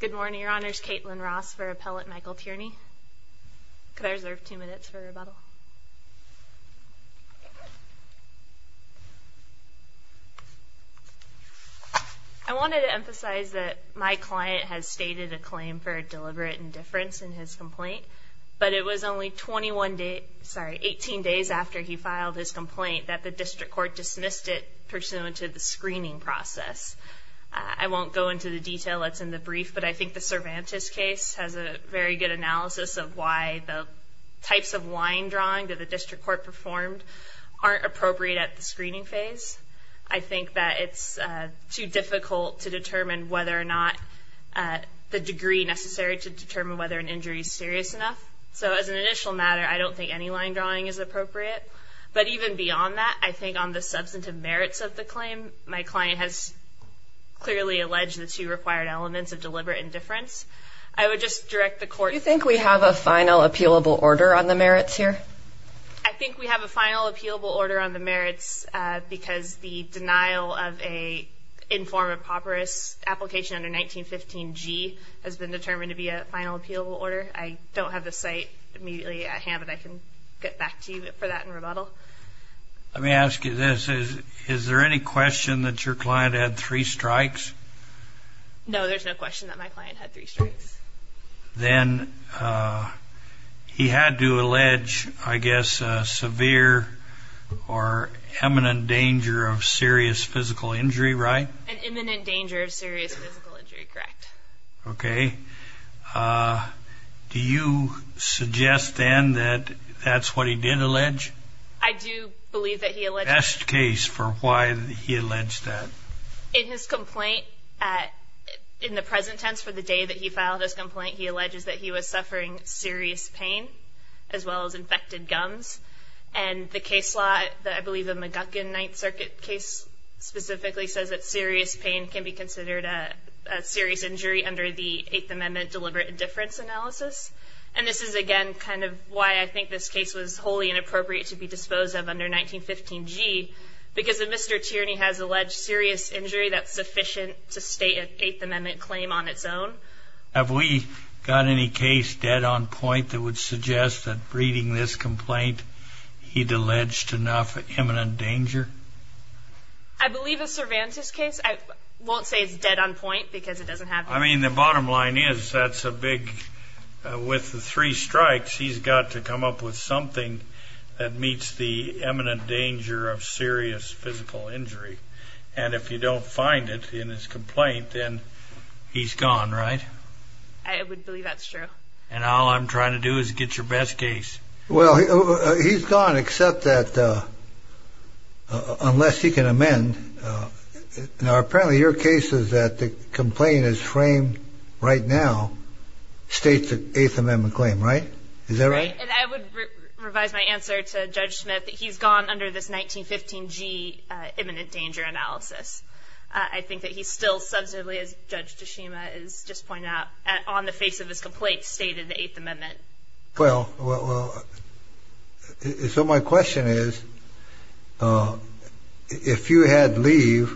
Good morning, Your Honors. Kaitlin Ross for Appellate Michael Tierney. Could I reserve two minutes for rebuttal? I wanted to emphasize that my client has stated a claim for deliberate indifference in his complaint, but it was only 21 days, sorry, 18 days after he filed his complaint that the district court dismissed it pursuant to the screening process. I won't go into the detail that's in the brief, but I think the Cervantes case has a very good analysis of why the types of line drawing that the district court performed aren't appropriate at the screening phase. I think that it's too difficult to determine whether or not the degree necessary to determine whether an injury is serious enough. So as an initial matter, I don't think any line drawing is appropriate. But even beyond that, I think on the substantive merits of the claim, my client has clearly alleged the two required elements of deliberate indifference. I would just direct the court- Do you think we have a final appealable order on the merits here? I think we have a final appealable order on the merits because the denial of a in form of papyrus application under 1915 G has been determined to be a final appealable order. I don't have the site immediately at hand, but I can get back to you for that in rebuttal. Let me ask you this. Is there any question that your client had three strikes? No, there's no question that my client had three strikes. Then he had to allege, I guess, a severe or imminent danger of serious physical injury, right? An imminent danger of serious physical injury, correct. Okay. Do you suggest then that that's what he did allege? I do believe that he alleged- Best case for why he alleged that. In his complaint, in the present tense for the day that he filed his complaint, he alleges that he was suffering serious pain as well as infected gums. And the case law, I believe the McGuckin Ninth Circuit case specifically says that serious pain can be considered a serious injury under the Eighth Amendment deliberate indifference analysis. And this is, again, kind of why I think this case was wholly inappropriate to be disposed of under 1915 G, because if Mr. Tierney has alleged serious injury, that's sufficient to state an Eighth Amendment claim on its own. Have we got any case dead on point that would suggest that reading this complaint, he'd alleged enough imminent danger? I believe a Cervantes case. I won't say it's dead on point because it doesn't have- I mean, the bottom line is that's a big, with the three strikes, he's got to come up with something that meets the imminent danger of serious physical injury. And if you don't find it in his complaint, then he's gone, right? I would believe that's true. And all I'm trying to do is get your best case. Well, he's gone, except that unless he can amend. Now, apparently your case is that the complaint is framed right now, states the Eighth Amendment claim, right? Is that right? And I would revise my answer to Judge Smith. He's gone under this 1915 G imminent danger analysis. I think that he's still substantively, as Judge Toshima has just pointed out, on the face of this complaint, stated the Eighth Amendment. Well, so my question is, if you had leave,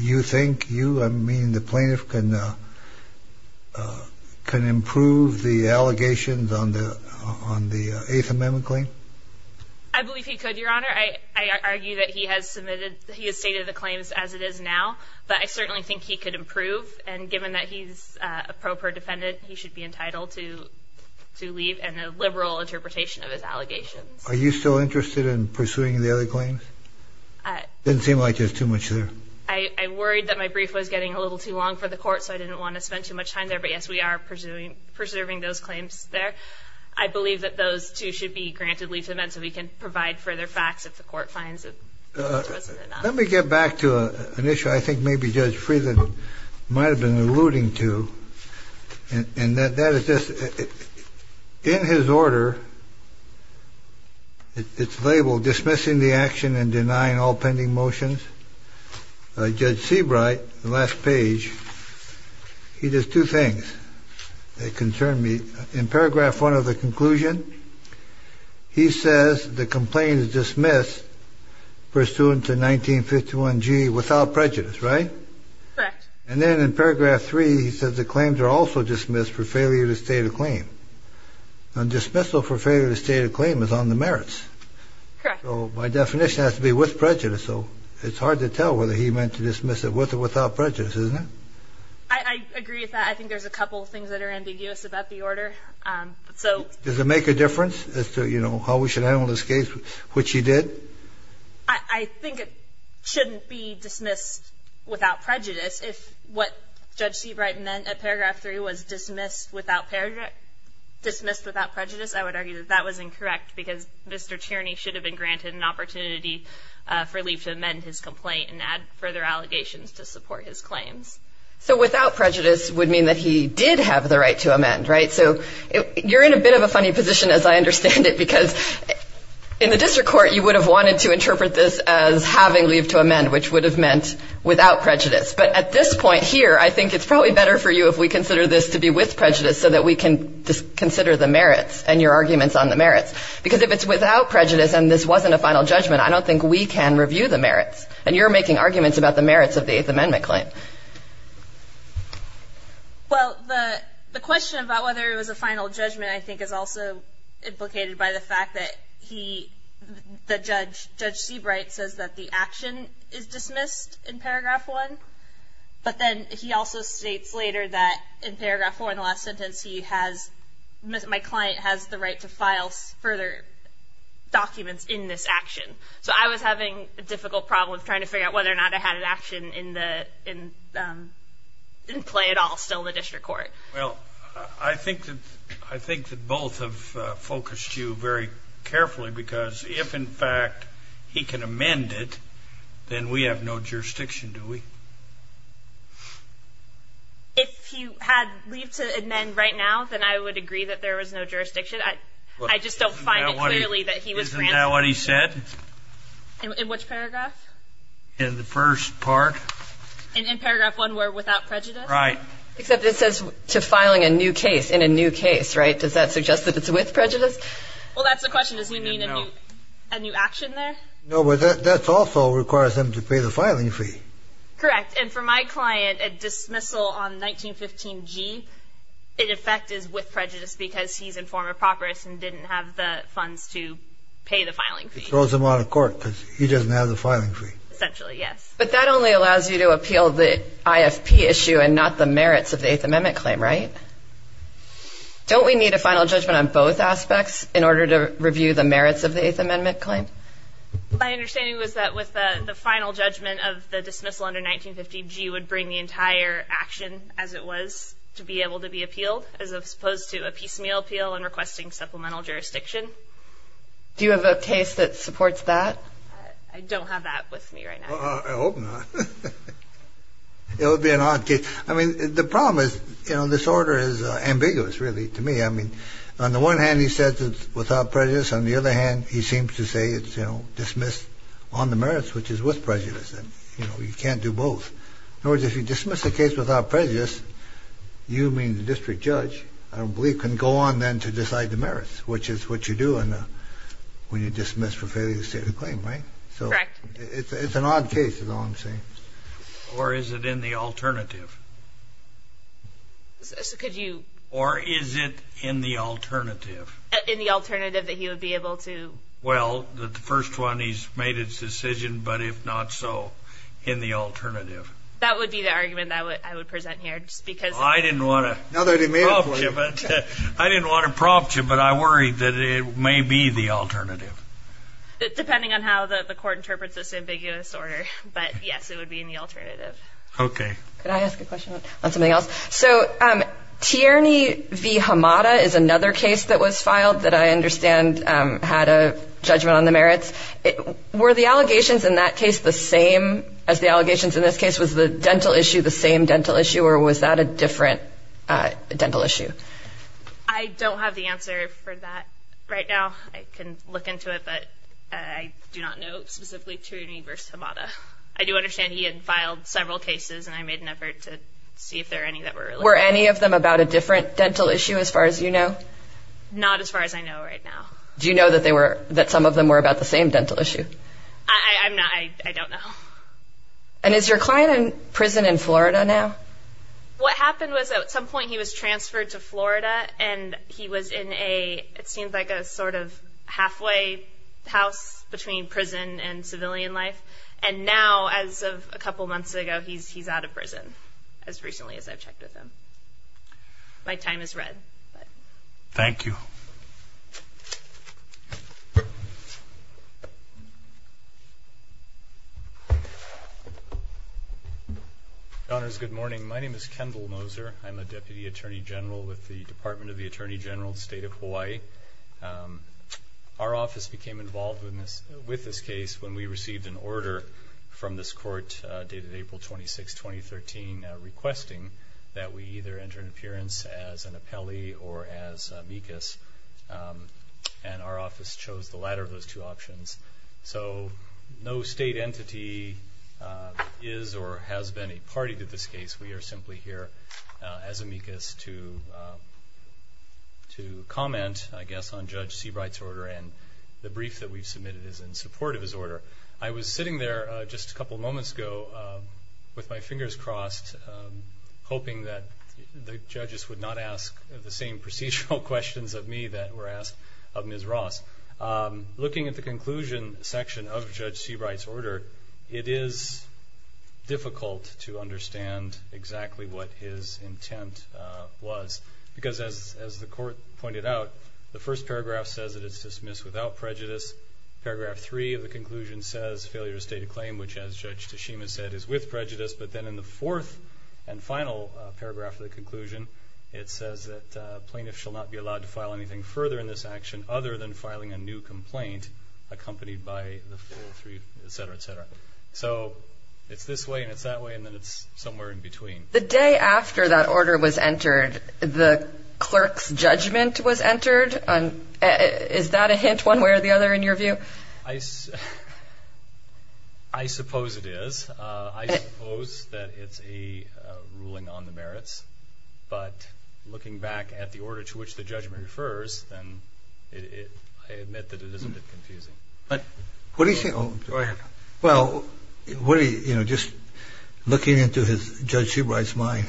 you think you, I mean the plaintiff, can improve the allegations on the Eighth Amendment claim? I believe he could, Your Honor. I argue that he has submitted, he has stated the claims as it is now, but I certainly think he could improve. And given that he's a pro-predefendant, he should be entitled to leave and a liberal interpretation of his allegations. Are you still interested in pursuing the other claims? It doesn't seem like there's too much there. I worried that my brief was getting a little too long for the court, so I didn't want to spend too much time there. But yes, we are pursuing, preserving those claims there. I believe that those two should be granted leave to amend so we can provide further facts if the court finds that it wasn't enough. Let me get back to an issue I think maybe Judge Friedland might have been alluding to, and that is just, in his order, it's labeled dismissing the action and denying all pending motions. Judge Seabright, the last page, he does two things that concern me. In paragraph one of the conclusion, he says the complaint is dismissed pursuant to 1951G without prejudice, right? Correct. And then in paragraph three, he says the claims are also dismissed for failure to state a claim. A dismissal for failure to state a claim is on the merits. Correct. So my definition has to be with prejudice, so it's hard to tell whether he meant to dismiss it with or without prejudice, isn't it? I agree with that. I think there's a couple of things that are ambiguous about the order. Does it make a difference as to, you know, how we should handle this case, which he did? I think it shouldn't be dismissed without prejudice. If what Judge Seabright meant at paragraph three was dismissed without prejudice, I would argue that that was incorrect because Mr. Tierney should have been granted an opportunity for leave to amend his complaint and add further allegations to support his claims. So without prejudice would mean that he did have the right to amend, right? So you're in a bit of a funny position, as I understand it, because in the district court, you would have wanted to interpret this as having leave to amend, which would have meant without prejudice. But at this point here, I think it's probably better for you if we consider this to be with prejudice so that we can consider the merits and your arguments on the merits. Because if it's without prejudice and this wasn't a final judgment, I don't think we can review the merits. And you're making arguments about the merits of the Eighth Amendment claim. Well, the question about whether it was a final judgment, I think, is also implicated by the fact that he, that Judge Seabright says that the action is dismissed in paragraph one. But then he also states later that in paragraph four in the last sentence, he has my client has the right to file further documents in this action. So I was having a difficult problem trying to figure out whether or not I had an action in the in play at all still in the district court. Well, I think that I think that both have focused you very carefully, because if in fact, he can amend it, then we have no jurisdiction, do we? If you had leave to amend right now, then I would agree that there was no jurisdiction. I just don't find it clearly that he was granted. Isn't that what he said? In which paragraph? In the first part. In paragraph one where without prejudice? Right. Except it says to filing a new case in a new case, right? Does that suggest that it's with prejudice? Well, that's the question. Does he mean a new action there? No, but that's also requires them to pay the filing fee. Correct. And for my client, a dismissal on 1915 G, in effect, is with prejudice because he's in former properous and didn't have the funds to pay the filing fee. It throws him out of court because he doesn't have the filing fee. Essentially, yes. But that only allows you to appeal the IFP issue and not the merits of the Eighth Amendment claim, right? Don't we need a final judgment on both aspects in order to review the merits of the Eighth Amendment claim? My understanding was that with the final judgment of the dismissal under 1915 G would bring the entire action as it was to be able to be appealed as opposed to a piecemeal appeal and requesting supplemental jurisdiction. Do you have a case that supports that? I don't have that with me right now. I hope not. It would be an odd case. I mean, the problem is, you know, this order is ambiguous really to me. I mean, on the one hand, he says it's without prejudice. On the other hand, he seems to say it's, you know, dismissed on the merits, which is with prejudice. You know, you can't do both. In other words, if you dismiss a case without prejudice, you mean the district judge, I don't believe, can go on then to decide the merits, which is what you do when you dismiss for failure to state a claim, right? Correct. It's an odd case is all I'm saying. Or is it in the alternative? Could you... Or is it in the alternative? In the alternative that he would be able to... Well, the first one, he's made his decision, but if not so, in the alternative. That would be the argument that I would present here, just because... I didn't want to... No, they didn't mean it for you. I didn't want to prompt you, but I worry that it may be the alternative. Depending on how the court interprets this ambiguous order, but yes, it would be in the alternative. Okay. Could I ask a question on something else? So Tierney v. Hamada is another case that was filed that I understand had a judgment on the merits. Were the allegations in that case the same as the allegations in this case? Was the dental issue the same dental issue, or was that a different dental issue? I don't have the answer for that right now. I can look into it, but I do not know specifically Tierney v. Hamada. I do understand he had filed several cases, and I made an effort to see if there were any that were related. Were any of them about a different dental issue, as far as you know? Not as far as I know right now. Do you know that some of them were about the same dental issue? I don't know. And is your client in prison in Florida now? What happened was, at some point, he was transferred to Florida, and he was in a... And now, as of a couple months ago, he's out of prison, as recently as I've checked with him. My time is red. Thank you. Your Honors, good morning. My name is Kendall Moser. I'm a Deputy Attorney General with the Department of the Attorney General of the State of Hawaii. Our office became involved with this case when we received an order from this court dated April 26, 2013, requesting that we either enter an appearance as an appellee or as amicus. And our office chose the latter of those two options. So no state entity is or has been a party to this case. We are simply here as amicus to comment, I guess, on Judge Seabright's order, and the brief that we've submitted is in support of his order. I was sitting there just a couple moments ago with my fingers crossed, hoping that the judges would not ask the same procedural questions of me that were asked of Ms. Ross. Looking at the conclusion section of Judge Seabright's order, it is difficult to understand exactly what his intent was because, as the court pointed out, the first paragraph says that it's dismissed without prejudice. Paragraph three of the conclusion says failure to state a claim, which, as Judge Tashima said, is with prejudice. But then in the fourth and final paragraph of the conclusion, it says that a plaintiff shall not be allowed to file anything further in this action other than filing a new complaint accompanied by the full three, et cetera, et cetera. So it's this way and it's that way, and then it's somewhere in between. The day after that order was entered, the clerk's judgment was entered. Is that a hint one way or the other in your view? I suppose it is. I suppose that it's a ruling on the merits. But looking back at the order to which the judgment refers, then I admit that it is a bit confusing. Go ahead. Well, just looking into Judge Seabright's mind,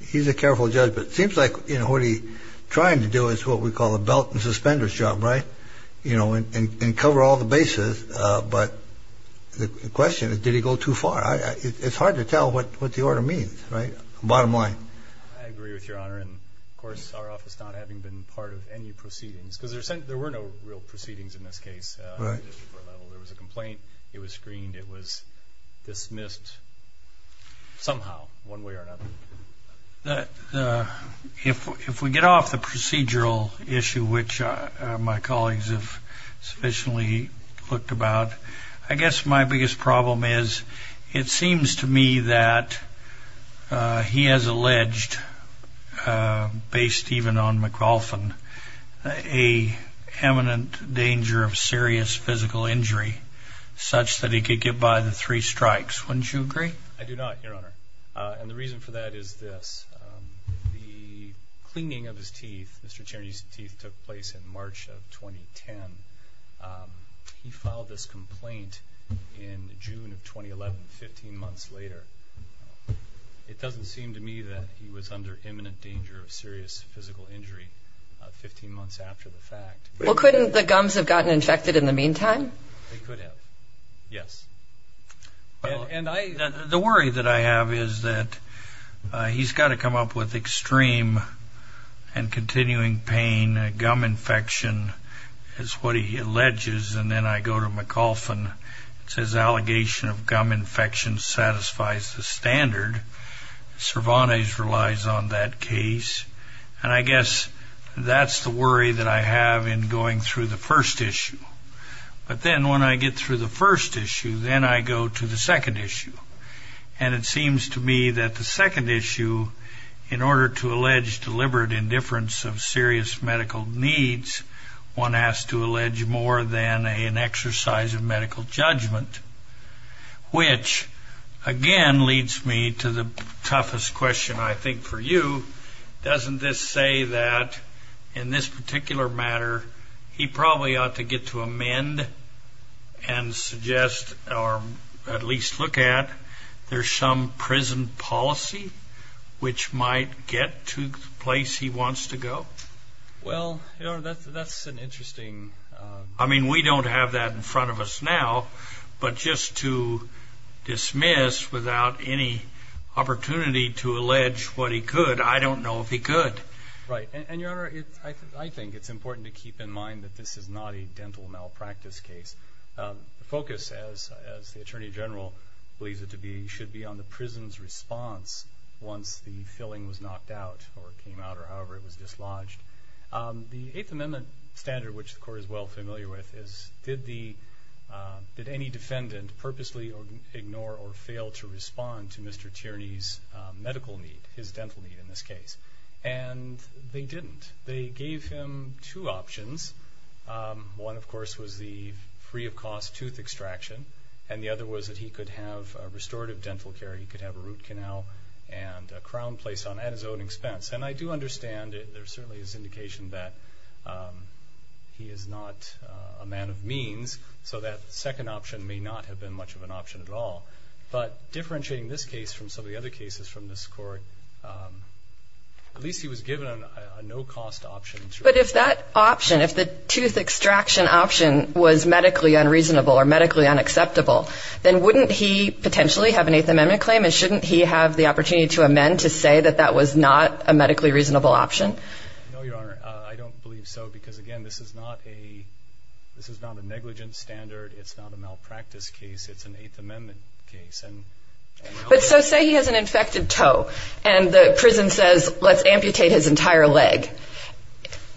he's a careful judge, but it seems like what he's trying to do is what we call a belt and suspenders job, right, and cover all the bases. But the question is, did he go too far? It's hard to tell what the order means, right, bottom line. I agree with Your Honor. And, of course, our office not having been part of any proceedings, because there were no real proceedings in this case. Right. There was a complaint. It was screened. It was dismissed somehow, one way or another. If we get off the procedural issue, which my colleagues have sufficiently looked about, I guess my biggest problem is it seems to me that he has alleged, based even on McLaughlin, a eminent danger of serious physical injury such that he could get by the three strikes. Wouldn't you agree? I do not, Your Honor. And the reason for that is this. The cleaning of his teeth, Mr. Cherney's teeth, took place in March of 2010. He filed this complaint in June of 2011, 15 months later. It doesn't seem to me that he was under eminent danger of serious physical injury 15 months after the fact. Well, couldn't the gums have gotten infected in the meantime? They could have, yes. The worry that I have is that he's got to come up with extreme and continuing pain. Gum infection is what he alleges. And then I go to McLaughlin. It says allegation of gum infection satisfies the standard. Cervantes relies on that case. And I guess that's the worry that I have in going through the first issue. But then when I get through the first issue, then I go to the second issue. And it seems to me that the second issue, in order to allege deliberate indifference of serious medical needs, one has to allege more than an exercise of medical judgment, which, again, leads me to the toughest question I think for you. Doesn't this say that, in this particular matter, he probably ought to get to amend and suggest, or at least look at, there's some prison policy which might get to the place he wants to go? Well, that's an interesting... I mean, we don't have that in front of us now. But just to dismiss without any opportunity to allege what he could, I don't know if he could. Right. And, Your Honor, I think it's important to keep in mind that this is not a dental malpractice case. The focus, as the Attorney General believes it to be, should be on the prison's response once the filling was knocked out or came out or however it was dislodged. The Eighth Amendment standard, which the Court is well familiar with, is did any defendant purposely ignore or fail to respond to Mr. Tierney's medical need, his dental need in this case? And they didn't. They gave him two options. One, of course, was the free-of-cost tooth extraction, and the other was that he could have restorative dental care, he could have a root canal and a crown place at his own expense. And I do understand there certainly is indication that he is not a man of means, so that second option may not have been much of an option at all. But differentiating this case from some of the other cases from this Court, at least he was given a no-cost option. But if that option, if the tooth extraction option was medically unreasonable or medically unacceptable, then wouldn't he potentially have an Eighth Amendment claim and shouldn't he have the opportunity to amend to say that that was not a medically reasonable option? No, Your Honor. I don't believe so because, again, this is not a negligent standard. It's not a malpractice case. It's an Eighth Amendment case. But so say he has an infected toe and the prison says, let's amputate his entire leg.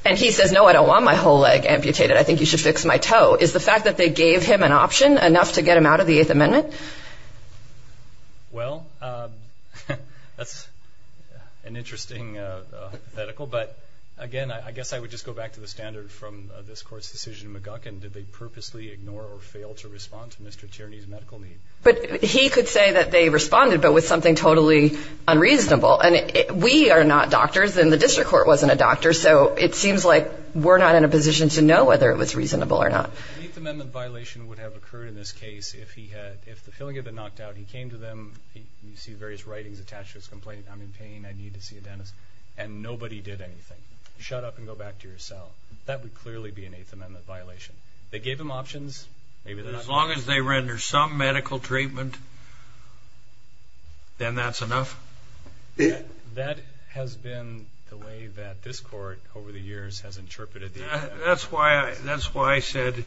And he says, no, I don't want my whole leg amputated. I think you should fix my toe. Is the fact that they gave him an option enough to get him out of the Eighth Amendment? Well, that's an interesting hypothetical. But, again, I guess I would just go back to the standard from this Court's decision in McGuckin. Did they purposely ignore or fail to respond to Mr. Tierney's medical need? But he could say that they responded but with something totally unreasonable. And we are not doctors and the district court wasn't a doctor, so it seems like we're not in a position to know whether it was reasonable or not. An Eighth Amendment violation would have occurred in this case if he had, if the feeling had been knocked out, he came to them, you see various writings attached to his complaint, I'm in pain, I need to see a dentist, and nobody did anything. Shut up and go back to your cell. That would clearly be an Eighth Amendment violation. They gave him options. As long as they render some medical treatment, then that's enough? That's why I said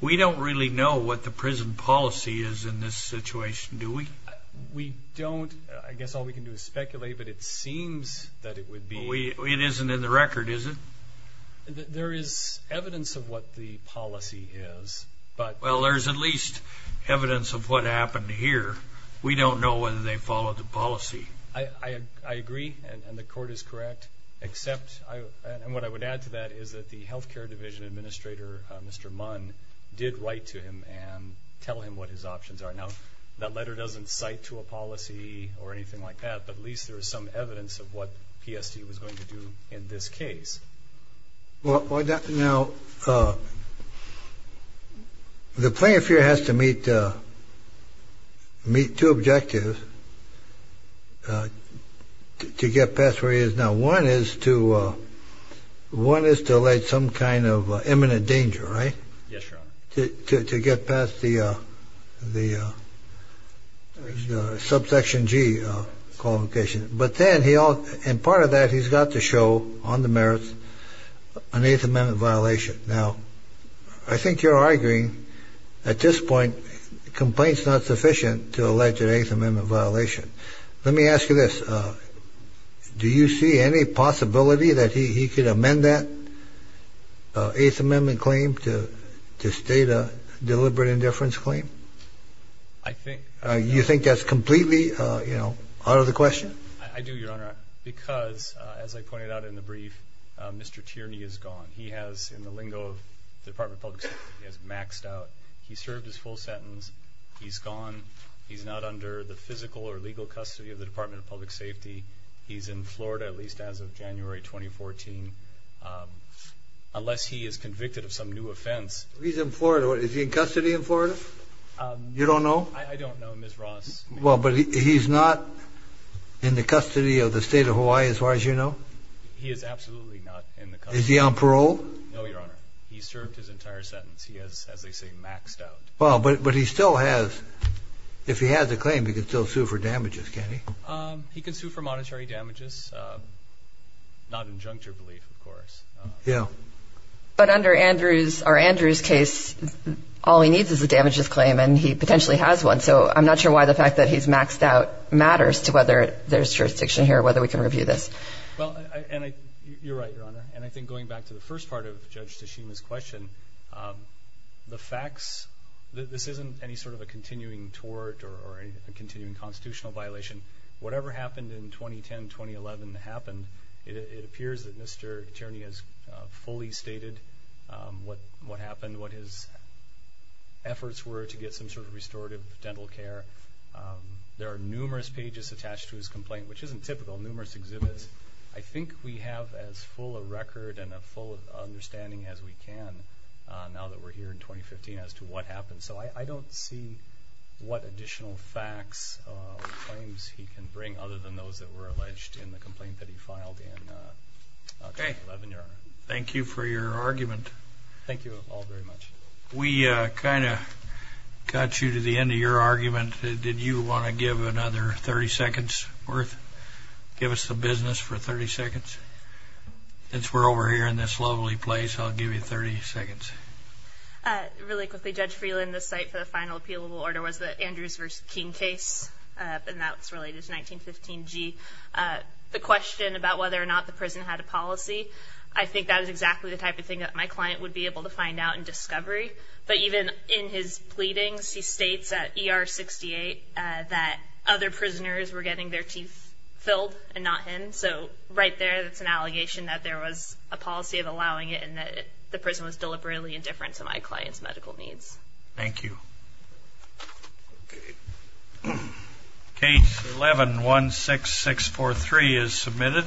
we don't really know what the prison policy is in this situation, do we? We don't. I guess all we can do is speculate, but it seems that it would be. It isn't in the record, is it? There is evidence of what the policy is. Well, there's at least evidence of what happened here. We don't know whether they followed the policy. I agree, and the Court is correct. And what I would add to that is that the health care division administrator, Mr. Munn, did write to him and tell him what his options are. Now, that letter doesn't cite to a policy or anything like that, but at least there is some evidence of what PSD was going to do in this case. Now, the plaintiff here has to meet two objectives to get past where he is now. One is to allege some kind of imminent danger, right? Yes, Your Honor. To get past the Subsection G qualification. And part of that he's got to show on the merits an Eighth Amendment violation. Now, I think you're arguing at this point complaints not sufficient to allege an Eighth Amendment violation. Let me ask you this. Do you see any possibility that he could amend that Eighth Amendment claim to state a deliberate indifference claim? I think. You think that's completely, you know, out of the question? I do, Your Honor, because as I pointed out in the brief, Mr. Tierney is gone. He has, in the lingo of the Department of Public Safety, he has maxed out. He served his full sentence. He's gone. He's not under the physical or legal custody of the Department of Public Safety. He's in Florida, at least as of January 2014, unless he is convicted of some new offense. He's in Florida. Is he in custody in Florida? You don't know? I don't know, Ms. Ross. Well, but he's not in the custody of the State of Hawaii, as far as you know? He is absolutely not in the custody. Is he on parole? No, Your Honor. He served his entire sentence. He has, as they say, maxed out. Well, but he still has, if he has a claim, he can still sue for damages, can't he? He can sue for monetary damages, not in juncture belief, of course. Yeah. But under our Andrews case, all he needs is a damages claim, and he potentially has one. So I'm not sure why the fact that he's maxed out matters to whether there's jurisdiction here, whether we can review this. Well, you're right, Your Honor. And I think going back to the first part of Judge Tashima's question, the facts, this isn't any sort of a continuing tort or a continuing constitutional violation. Whatever happened in 2010-2011 happened. It appears that Mr. Tierney has fully stated what happened, what his efforts were to get some sort of restorative dental care. There are numerous pages attached to his complaint, which isn't typical, numerous exhibits. I think we have as full a record and a full understanding as we can, now that we're here in 2015, as to what happened. So I don't see what additional facts or claims he can bring, other than those that were alleged in the complaint that he filed in 2011, Your Honor. Thank you for your argument. Thank you all very much. We kind of got you to the end of your argument. Did you want to give another 30 seconds' worth, give us the business for 30 seconds? Since we're over here in this lovely place, I'll give you 30 seconds. Really quickly, Judge Freeland, the site for the final appealable order was the Andrews v. King case, and that's related to 1915-G. The question about whether or not the prison had a policy, I think that was exactly the type of thing that my client would be able to find out and discovery, but even in his pleadings, he states at ER 68 that other prisoners were getting their teeth filled and not him. So right there, that's an allegation that there was a policy of allowing it and that the prison was deliberately indifferent to my client's medical needs. Thank you. Case 11-16643 is submitted.